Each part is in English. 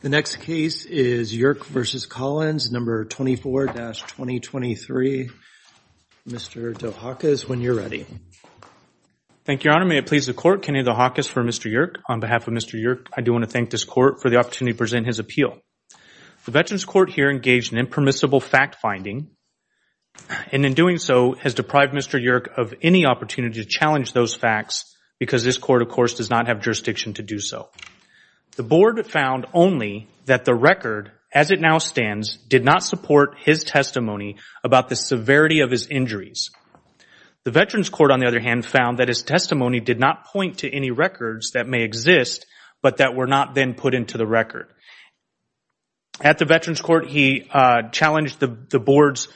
The next case is Yurk v. Collins, number 24-2023. Mr. DeHakis, when you're ready. Thank you, Your Honor. May it please the Court, Kennedy DeHakis for Mr. Yurk. On behalf of Mr. Yurk, I do want to thank this Court for the opportunity to present his appeal. The Veterans Court here engaged in impermissible fact-finding and in doing so has deprived Mr. Yurk of any opportunity to challenge those facts because this Court, of course, does not have so. The Board found only that the record, as it now stands, did not support his testimony about the severity of his injuries. The Veterans Court, on the other hand, found that his testimony did not point to any records that may exist but that were not then put into the record. At the Veterans Court, he challenged the Board's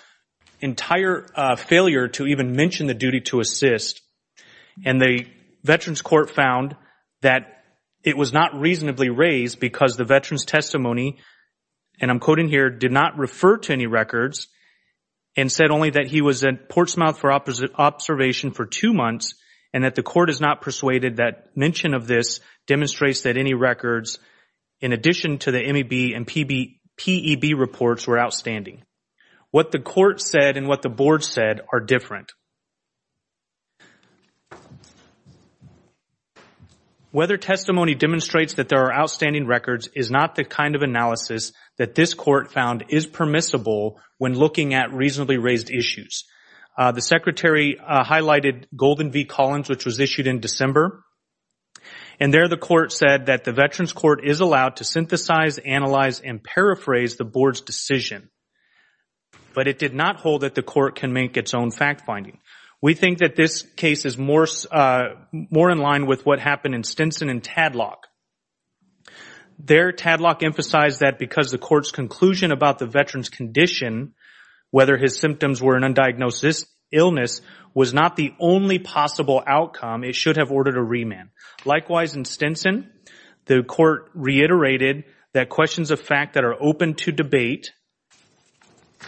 entire failure to even mention the duty to assist and the Veterans Court found that it was not reasonably raised because the Veterans testimony, and I'm quoting here, did not refer to any records and said only that he was at port's mouth for observation for two months and that the Court is not persuaded that mention of this demonstrates that any records, in addition to the MEB and PEB reports, were outstanding. What the Court said and what the Board said are different. Whether testimony demonstrates that there are outstanding records is not the kind of analysis that this Court found is permissible when looking at reasonably raised issues. The Secretary highlighted Golden v. Collins, which was issued in December, and there the Court said that the Veterans Court is allowed to synthesize, analyze, and paraphrase the Board's decision, but it did not hold that the Court can make its own fact-finding. We think that this case is more in line with what happened in Stinson and Tadlock. There, Tadlock emphasized that because the Court's conclusion about the Veteran's condition, whether his symptoms were an undiagnosed illness, was not the only possible outcome, it should have ordered a remand. Likewise, in Stinson, the Court reiterated that questions of fact that are open to debate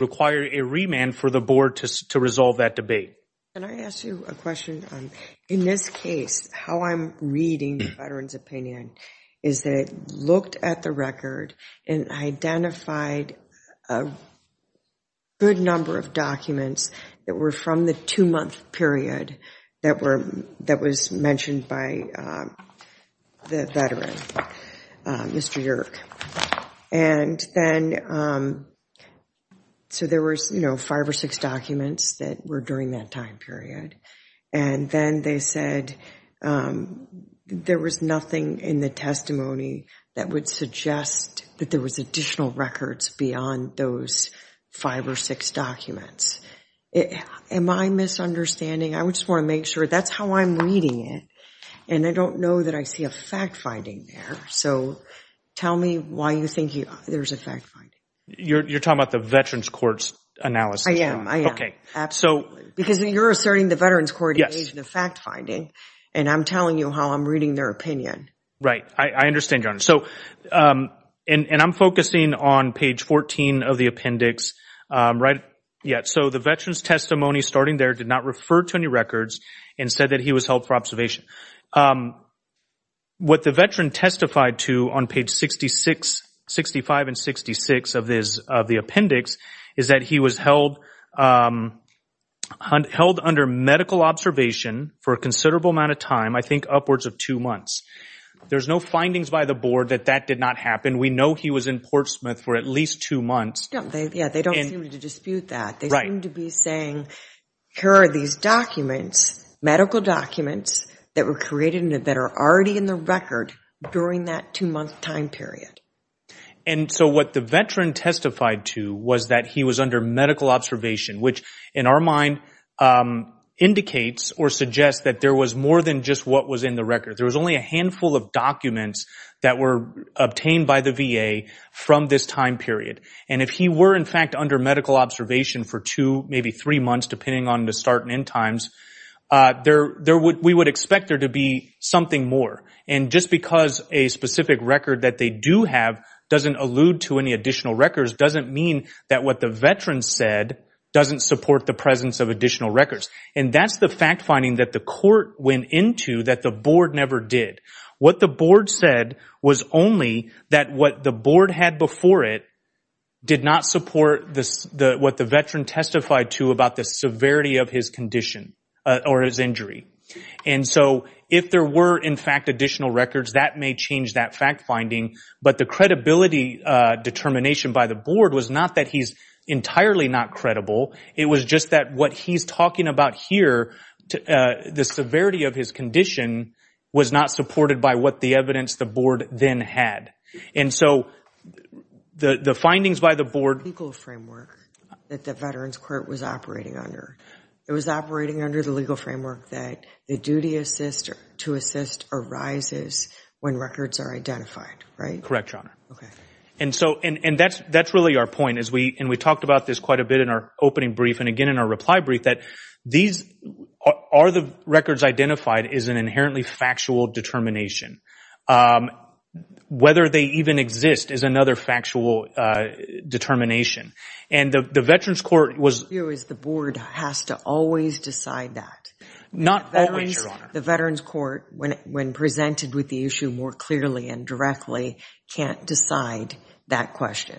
require a remand for the Board to resolve that debate. Can I ask you a question? In this case, how I'm reading the Veteran's opinion is that it looked at the record and identified a good number of documents that were from the two-month period that was mentioned by the Veteran, Mr. Yerke. There were five or six documents that were during that time period, and then they said there was nothing in the testimony that would suggest that there was additional records beyond those five or six documents. Am I misunderstanding? I just want to make sure. That's how I'm reading it, and I don't know that I see a fact-finding there, so tell me why you think there's a fact-finding. You're talking about the Veteran's Court's analysis? I am. Because you're asserting the Veteran's Court engaged in the fact-finding, and I'm telling you how I'm reading their opinion. Right. I understand, Your Honor. I'm focusing on page 14 of the appendix. The Veteran's testimony starting there did not refer to any records and said that he was held for observation. What the Veteran testified to on page 65 and 66 of the appendix is that he was held under medical observation for a considerable amount of time, I think upwards of two months. There's no findings by the Board that that did not happen. We know he was in Portsmouth for at least two months. They don't seem to dispute that. They seem to be saying, here are these medical documents that were created that are already in the record during that two-month time period. What the Veteran testified to was that he was under medical observation, which in our mind indicates or suggests that there was more than just what was in the record. There was only a handful of documents that were obtained by the VA from this time period. If he were, in fact, under medical observation for two, maybe three months, depending on the start and end times, we would expect there to be something more. Just because a specific record that they do have doesn't allude to any additional records doesn't mean that what the Veteran said doesn't support the presence of additional records. That's the fact-finding that the Court went into that the Board never did. What the Board said was only that what the Board had before it did not support what the Veteran testified to about the severity of his condition or his injury. If there were, in fact, additional records, that may change that fact-finding. But the credibility determination by the Board was not that he's entirely not credible. It was just that what he's talking about here, the severity of his condition, was not supported by what the evidence the Board then had. And so, the findings by the Board... Legal framework that the Veterans Court was operating under. It was operating under the legal framework that the duty to assist arises when records are identified, right? Correct, Your Honor. Okay. And that's really our point. And we talked about this quite a bit in our opening brief. And again, our reply brief, that these are the records identified as an inherently factual determination. Whether they even exist is another factual determination. And the Veterans Court was... The issue is the Board has to always decide that. Not always, Your Honor. The Veterans Court, when presented with the issue more clearly and directly, can't decide that question.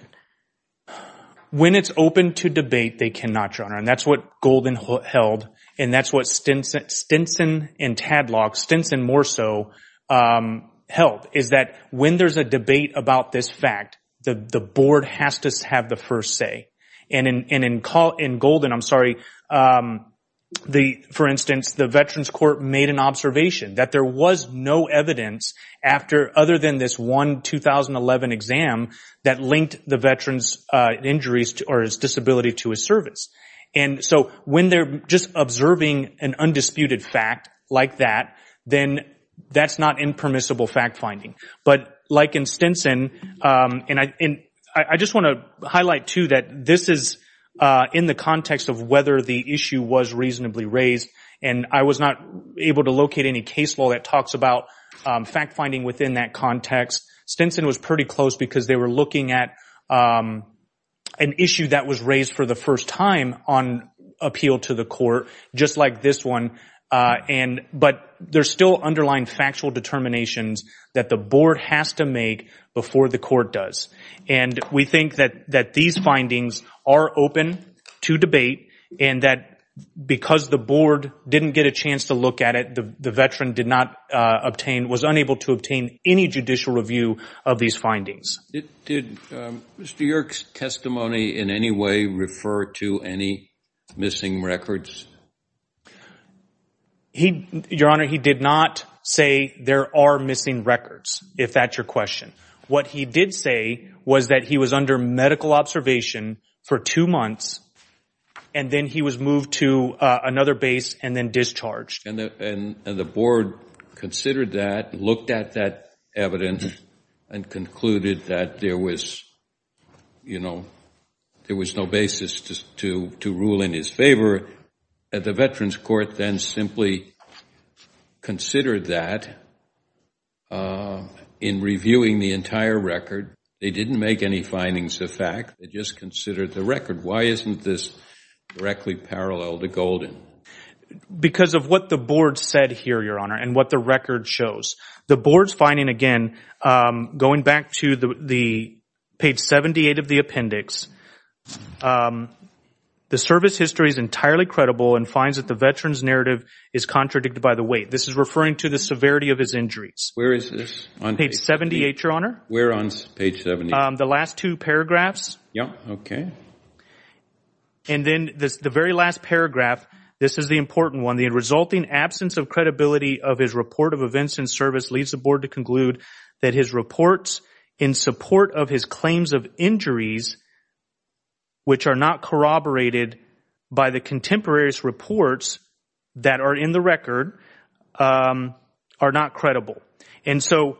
When it's open to debate, they cannot, Your Honor. And that's what Golden held. And that's what Stinson and Tadlock, Stinson more so, held. Is that when there's a debate about this fact, the Board has to have the first say. And in Golden, I'm sorry, for instance, the Veterans Court made an observation that there was no evidence other than this one 2011 exam that linked the injuries or his disability to his service. And so when they're just observing an undisputed fact like that, then that's not impermissible fact-finding. But like in Stinson, and I just want to highlight, too, that this is in the context of whether the issue was reasonably raised. And I was not able to locate any case law that talks about fact-finding within that context. Stinson was pretty close because they were looking at an issue that was raised for the first time on appeal to the court, just like this one. But there's still underlying factual determinations that the Board has to make before the court does. And we think that these findings are open to debate and that because the Board didn't get a chance to look at it, the Veteran did not obtain, was unable to obtain any judicial review of these findings. Did Mr. York's testimony in any way refer to any missing records? Your Honor, he did not say there are missing records, if that's your question. What he did say was that he was under medical observation for two months and then he was moved to another base and then discharged. And the Board considered that, looked at that evidence, and concluded that there was no basis to rule in his favor. The Veterans Court then simply considered that in reviewing the entire record. They didn't make any findings of fact, they just considered the record. Why isn't this directly parallel to Golden? Because of what the Board said here, Your Honor, and what the record shows. The Board's finding, again, going back to page 78 of the appendix, the service history is entirely credible and finds that the Veteran's narrative is contradicted by the weight. This is referring to the severity of his injuries. Where is this? Page 78, Your Honor. Where on page 78? The last two paragraphs. Yeah, okay. And then the very last paragraph, this is the important one, the resulting absence of credibility of his report of events and service leads the Board to conclude that his reports in support of his claims of injuries, which are not corroborated by the contemporaries reports that are in the record, are not credible. And so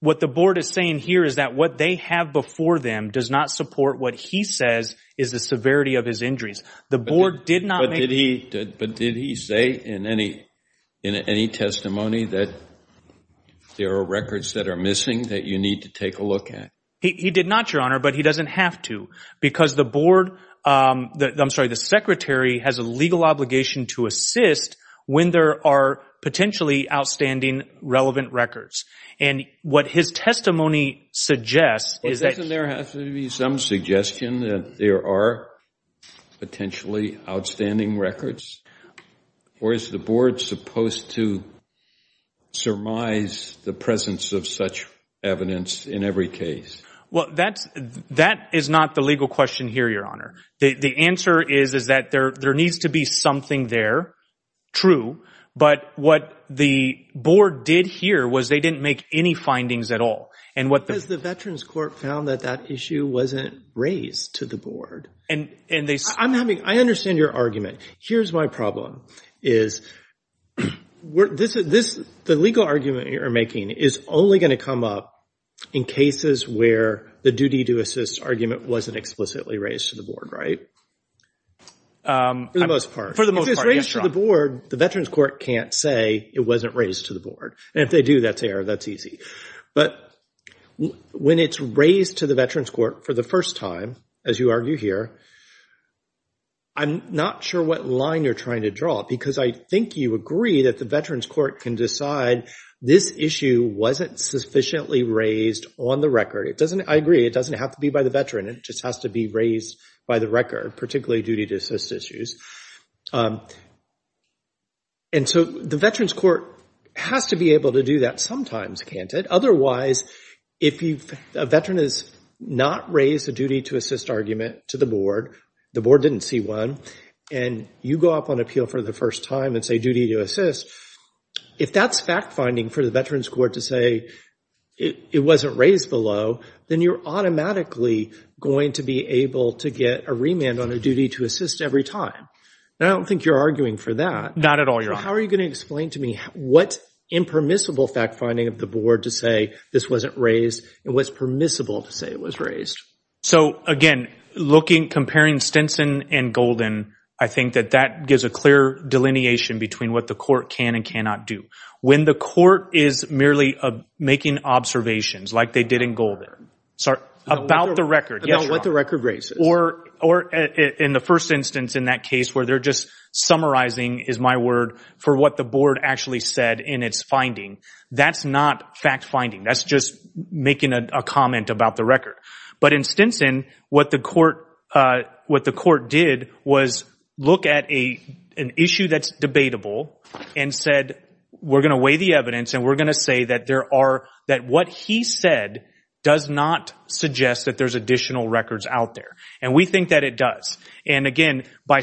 what the Board is saying here is that what they have before them does not support what he says is the severity of his injuries. The Board did not... But did he say in any testimony that there are records that are missing that you need to take a look at? He did not, Your Honor, but he doesn't have to. Because the Board, I'm sorry, the Secretary has a legal obligation to assist when there are potentially outstanding, relevant records. And what his testimony suggests is that... But doesn't there have to be some suggestion that there are potentially outstanding records? Or is the Board supposed to surmise the presence of such evidence in every case? Well, that is not the legal question here, Your Honor. The answer is that there needs to be something there. True. But what the Board did here was they didn't make any findings at all. And what the... Because the Veterans Court found that that issue wasn't raised to the Board. And they... I'm having... I understand your argument. Here's my problem, is the legal argument you're making is only going to come up in cases where the duty to assist argument wasn't explicitly raised to the Board, right? For the most part. If it's raised to the Board, the Veterans Court can't say it wasn't raised to the Board. And if they do, that's error. That's easy. But when it's raised to the Veterans Court for the first time, as you argue here, I'm not sure what line you're trying to draw. Because I think you agree that the Veterans Court can decide this issue wasn't sufficiently raised on the record. It doesn't... I agree. It doesn't have to be by the Veteran. It just has to be raised by the record, particularly duty to assist issues. And so the Veterans Court has to be able to do that sometimes, can't it? Otherwise, if a Veteran has not raised a duty to assist argument to the Board, the Board didn't see one, and you go up on appeal for the first time and say duty to assist, if that's fact-finding for the Veterans Court to say it wasn't raised below, then you're automatically going to be able to get a remand on a duty to assist every time. And I don't think you're arguing for that. Not at all, Your Honor. How are you going to explain to me what impermissible fact-finding of the Board to say this wasn't raised and what's permissible to say it was raised? So again, comparing Stinson and Golden, I think that that gives a clear delineation between what the Court can and cannot do. When the Court is merely making observations, like they did in Golden, about the record... About what the record raises. Or in the first instance in that case where they're just summarizing, is my word, for what the Board actually said in its finding, that's not fact-finding. That's just making a comment about the record. But in Stinson, what the Court did was look at an issue that's debatable and said, we're going to weigh the evidence and we're going to say that what he said does not suggest that there's additional records out there. And we think that it does. And again, by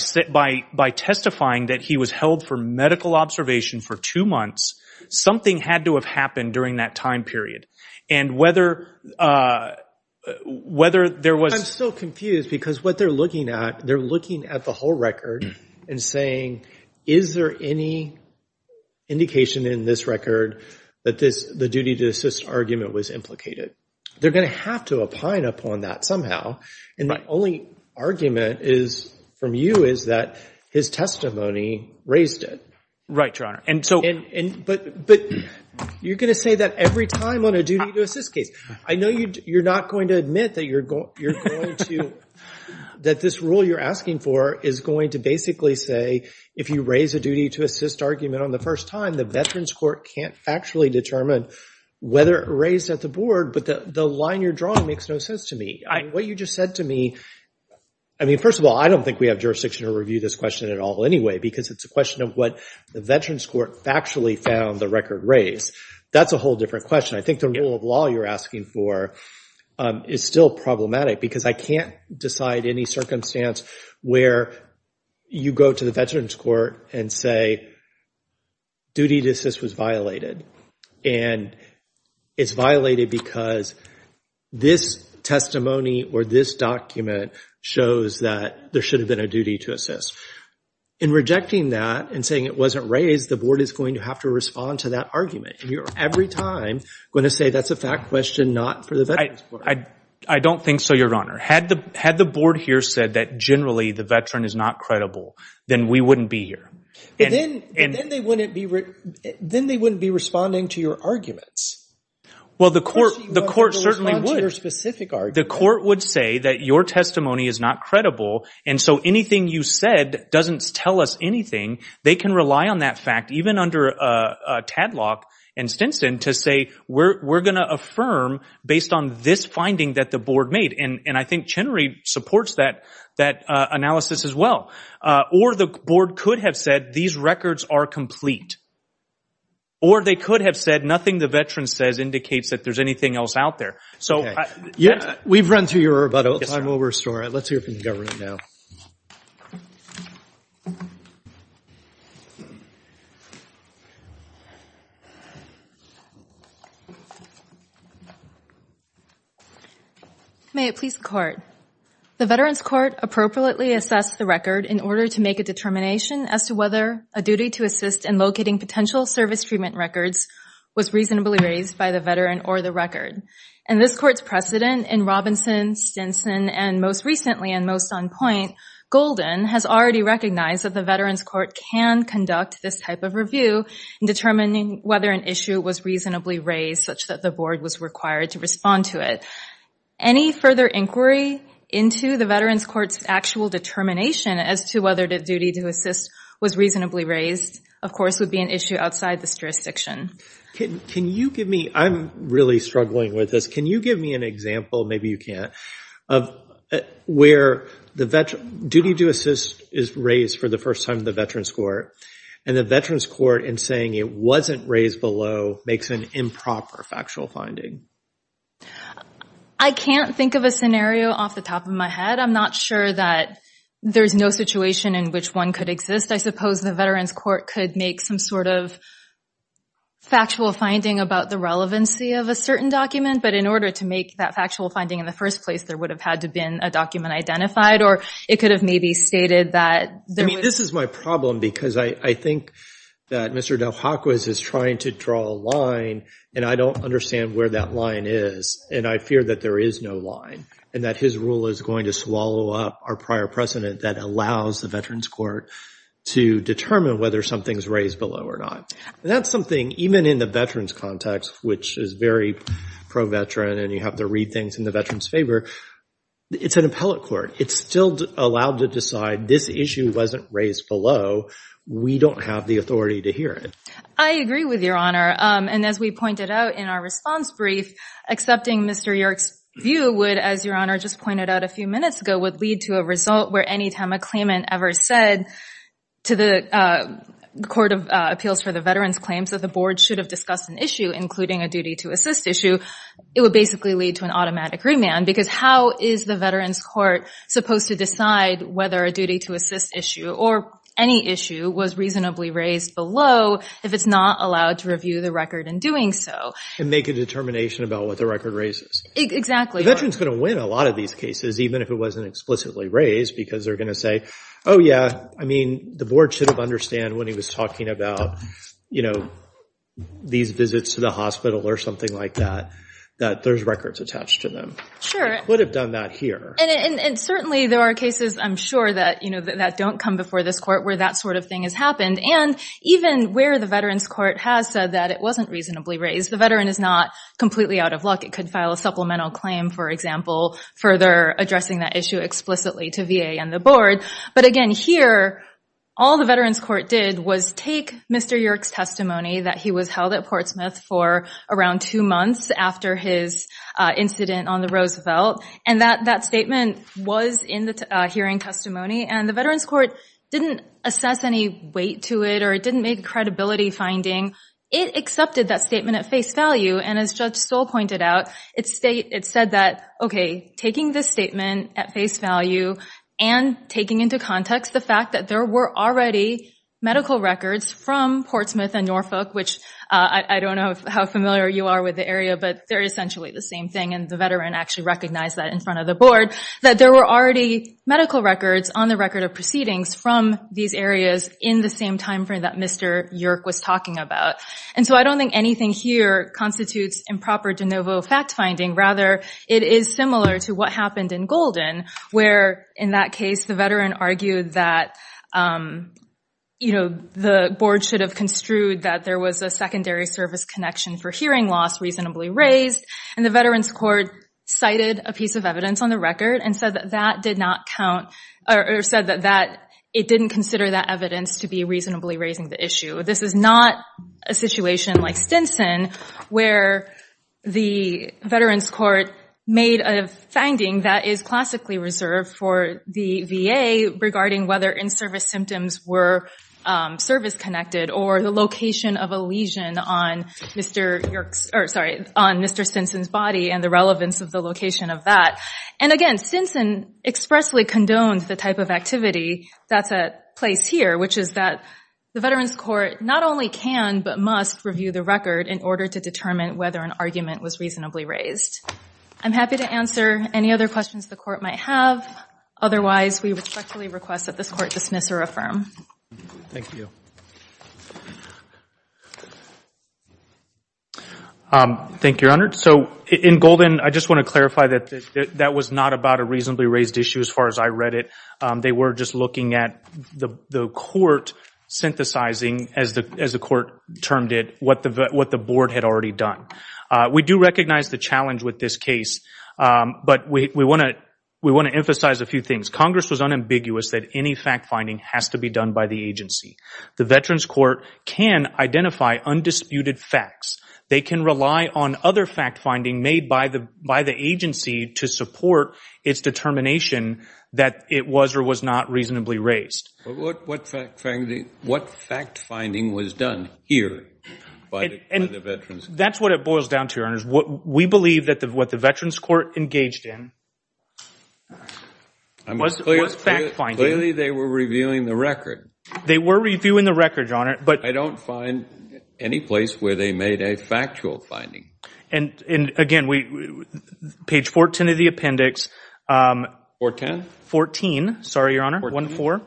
testifying that he was held for medical observation for two months, something had to have happened during that time period. And whether there was... I'm still confused because what they're looking at, they're looking at the whole record and saying, is there any indication in this record that the duty to assist argument was implicated? They're going to have to opine upon that somehow. And my only argument from you is that his testimony raised it. Right, Your Honor. But you're going to say that every time on a duty to assist case. I know you're not going to admit that this rule you're asking for is going to basically say, if you raise a duty to assist argument on the first time, the Veterans Court can't actually determine whether it raised at the Board. But the line you're drawing makes no sense to me. What you just said to me... I mean, first of all, I don't think we have jurisdiction to review this question at all because it's a question of what the Veterans Court factually found the record raised. That's a whole different question. I think the rule of law you're asking for is still problematic because I can't decide any circumstance where you go to the Veterans Court and say, duty to assist was violated. And it's violated because this testimony or this document shows that there should have been a duty to assist. In rejecting that and saying it wasn't raised, the Board is going to have to respond to that argument. And you're every time going to say that's a fact question not for the Veterans Court. I don't think so, Your Honor. Had the Board here said that generally the veteran is not credible, then we wouldn't be here. Then they wouldn't be responding to your arguments. Well, the court certainly would. The court would say that your testimony is not credible. And so anything you said doesn't tell us anything. They can rely on that fact even under Tadlock and Stinson to say we're going to affirm based on this finding that the Board made. And I think Chenery supports that analysis as well. Or the Board could have said these records are complete. Or they could have said nothing the veteran says indicates that there's anything else out there. We've run through your rebuttal. I'm over a story. Let's hear from the government now. May it please the Court. The Veterans Court appropriately assessed the record in order to make a determination as to whether a duty to assist in locating potential service treatment records was reasonably raised by the veteran or the record. And this Court's precedent in Robinson, Stinson, and most recently and most on point, Golden, has already recognized that the Veterans Court can conduct this type of review in determining whether an issue was reasonably raised such that the Board was required to respond to it. Any further inquiry into the Veterans Court's actual determination as to whether the duty to assist was reasonably raised, of course, would be an issue outside this jurisdiction. Can you give me, I'm really struggling with this. Can you give me an example, maybe you can't, of where the duty to assist is raised for the first time in the Veterans Court. And the Veterans Court in saying it wasn't raised below makes an improper factual finding. I can't think of a scenario off the top of my head. I'm not sure that there's no situation in which one could exist. I suppose the Veterans Court could make some sort of factual finding about the relevancy of a certain document. But in order to make that factual finding in the first place, there would have had to been a document identified or it could have maybe stated that there was... I mean, this is my problem because I think that Mr. Del Paco is trying to draw a line and I don't understand where that line is. And I fear that there is no line and that his rule is going to swallow up our prior precedent that allows the Veterans Court to determine whether something's raised below or not. And that's something, even in the veterans context, which is very pro-veteran and you have to read things in the veterans favor, it's an appellate court. It's still allowed to decide this issue wasn't raised below. We don't have the authority to hear it. I agree with Your Honor. And as we pointed out in our response brief, accepting Mr. York's view would, as Your Honor just pointed out a few minutes ago, would lead to a result where anytime a claimant ever said to the Court of Appeals for the Veterans claims that the board should have discussed an issue, including a duty to assist issue, it would basically lead to an automatic remand. Because how is the Veterans Court supposed to decide whether a duty to assist issue or any issue was reasonably raised below if it's not allowed to review the record in doing so? And make a determination about what the record raises. The veteran's going to win a lot of these cases, even if it wasn't explicitly raised, because they're going to say, oh yeah, I mean, the board should have understand when he was talking about these visits to the hospital or something like that, that there's records attached to them. Sure. Could have done that here. And certainly, there are cases, I'm sure, that don't come before this court where that sort of thing has happened. And even where the Veterans Court has said that it wasn't reasonably raised, the veteran is not completely out of luck. It could file a supplemental claim, for example, further addressing that issue explicitly to VA and the board. But again, here, all the Veterans Court did was take Mr. York's testimony that he was held at for around two months after his incident on the Roosevelt. And that statement was in the hearing testimony. And the Veterans Court didn't assess any weight to it, or it didn't make a credibility finding. It accepted that statement at face value. And as Judge Stoll pointed out, it said that, OK, taking this statement at face value and taking into context the fact that there were already medical records from Portsmouth and Norfolk, which I don't know how familiar you are with the area, but they're essentially the same thing. And the veteran actually recognized that in front of the board, that there were already medical records on the record of proceedings from these areas in the same time frame that Mr. York was talking about. And so I don't think anything here constitutes improper de novo fact finding. Rather, it is similar to what happened in Golden, where in that case, the veteran argued that the board should have construed that there was a secondary service connection for hearing loss reasonably raised. And the Veterans Court cited a piece of evidence on the record and said that it didn't consider that evidence to be reasonably raising the issue. This is not a situation like Stinson, where the Veterans Court made a finding that is for the VA regarding whether in-service symptoms were service connected or the location of a lesion on Mr. Stinson's body and the relevance of the location of that. And again, Stinson expressly condoned the type of activity that's at place here, which is that the Veterans Court not only can but must review the record in order to determine whether an argument was reasonably raised. I'm happy to answer any other questions the court might have. Otherwise, we respectfully request that this court dismiss or affirm. Thank you. Thank you, Your Honor. So in Golden, I just want to clarify that that was not about a reasonably raised issue as far as I read it. They were just looking at the court synthesizing, as the court termed it, what the board had already done. We do recognize the challenge with this case, but we want to emphasize a few things. Congress was unambiguous that any fact-finding has to be done by the agency. The Veterans Court can identify undisputed facts. They can rely on other fact-finding made by the agency to support its determination that it was or was not reasonably raised. What fact-finding was done here by the Veterans Court? That's what it boils down to, Your Honor. We believe that what the Veterans Court engaged in was fact-finding. Clearly, they were reviewing the record. They were reviewing the record, Your Honor. But I don't find any place where they made a factual finding. And again, page 14 of the appendix. 410? 14. Sorry, Your Honor. 1-4.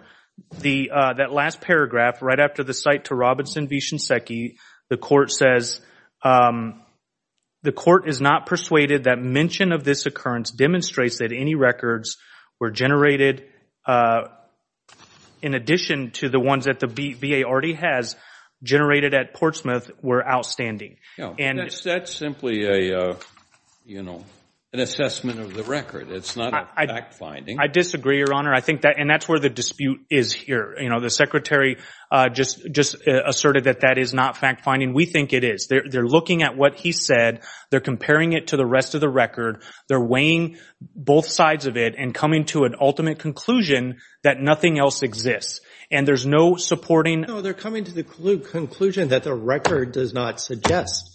That last paragraph right after the cite to Robinson v. Shinseki, the court says, the court is not persuaded that mention of this occurrence demonstrates that any records were generated in addition to the ones that the VA already has generated at Portsmouth were outstanding. That's simply an assessment of the record. It's not a fact-finding. I disagree, Your Honor. And that's where the dispute is here. The Secretary just asserted that that is not fact-finding. We think it is. They're looking at what he said. They're comparing it to the rest of the record. They're weighing both sides of it and coming to an ultimate conclusion that nothing else exists. And there's no supporting... No, they're coming to the conclusion that the record does not suggest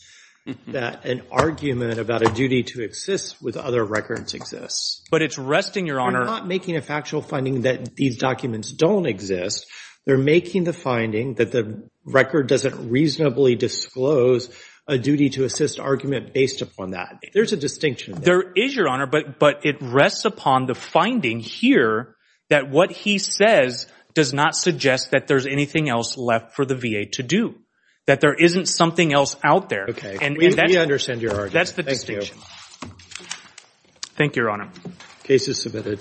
that an argument about a duty to exist with other records exists. But it's resting, Your Honor... They're not making a factual finding that these documents don't exist. They're making the finding that the record doesn't reasonably disclose a duty to assist argument based upon that. There's a distinction. There is, Your Honor, but it rests upon the finding here that what he says does not suggest that there's anything else left for the VA to do, that there isn't something else out there. Okay. We understand your argument. That's the distinction. Thank you, Your Honor. Case is submitted.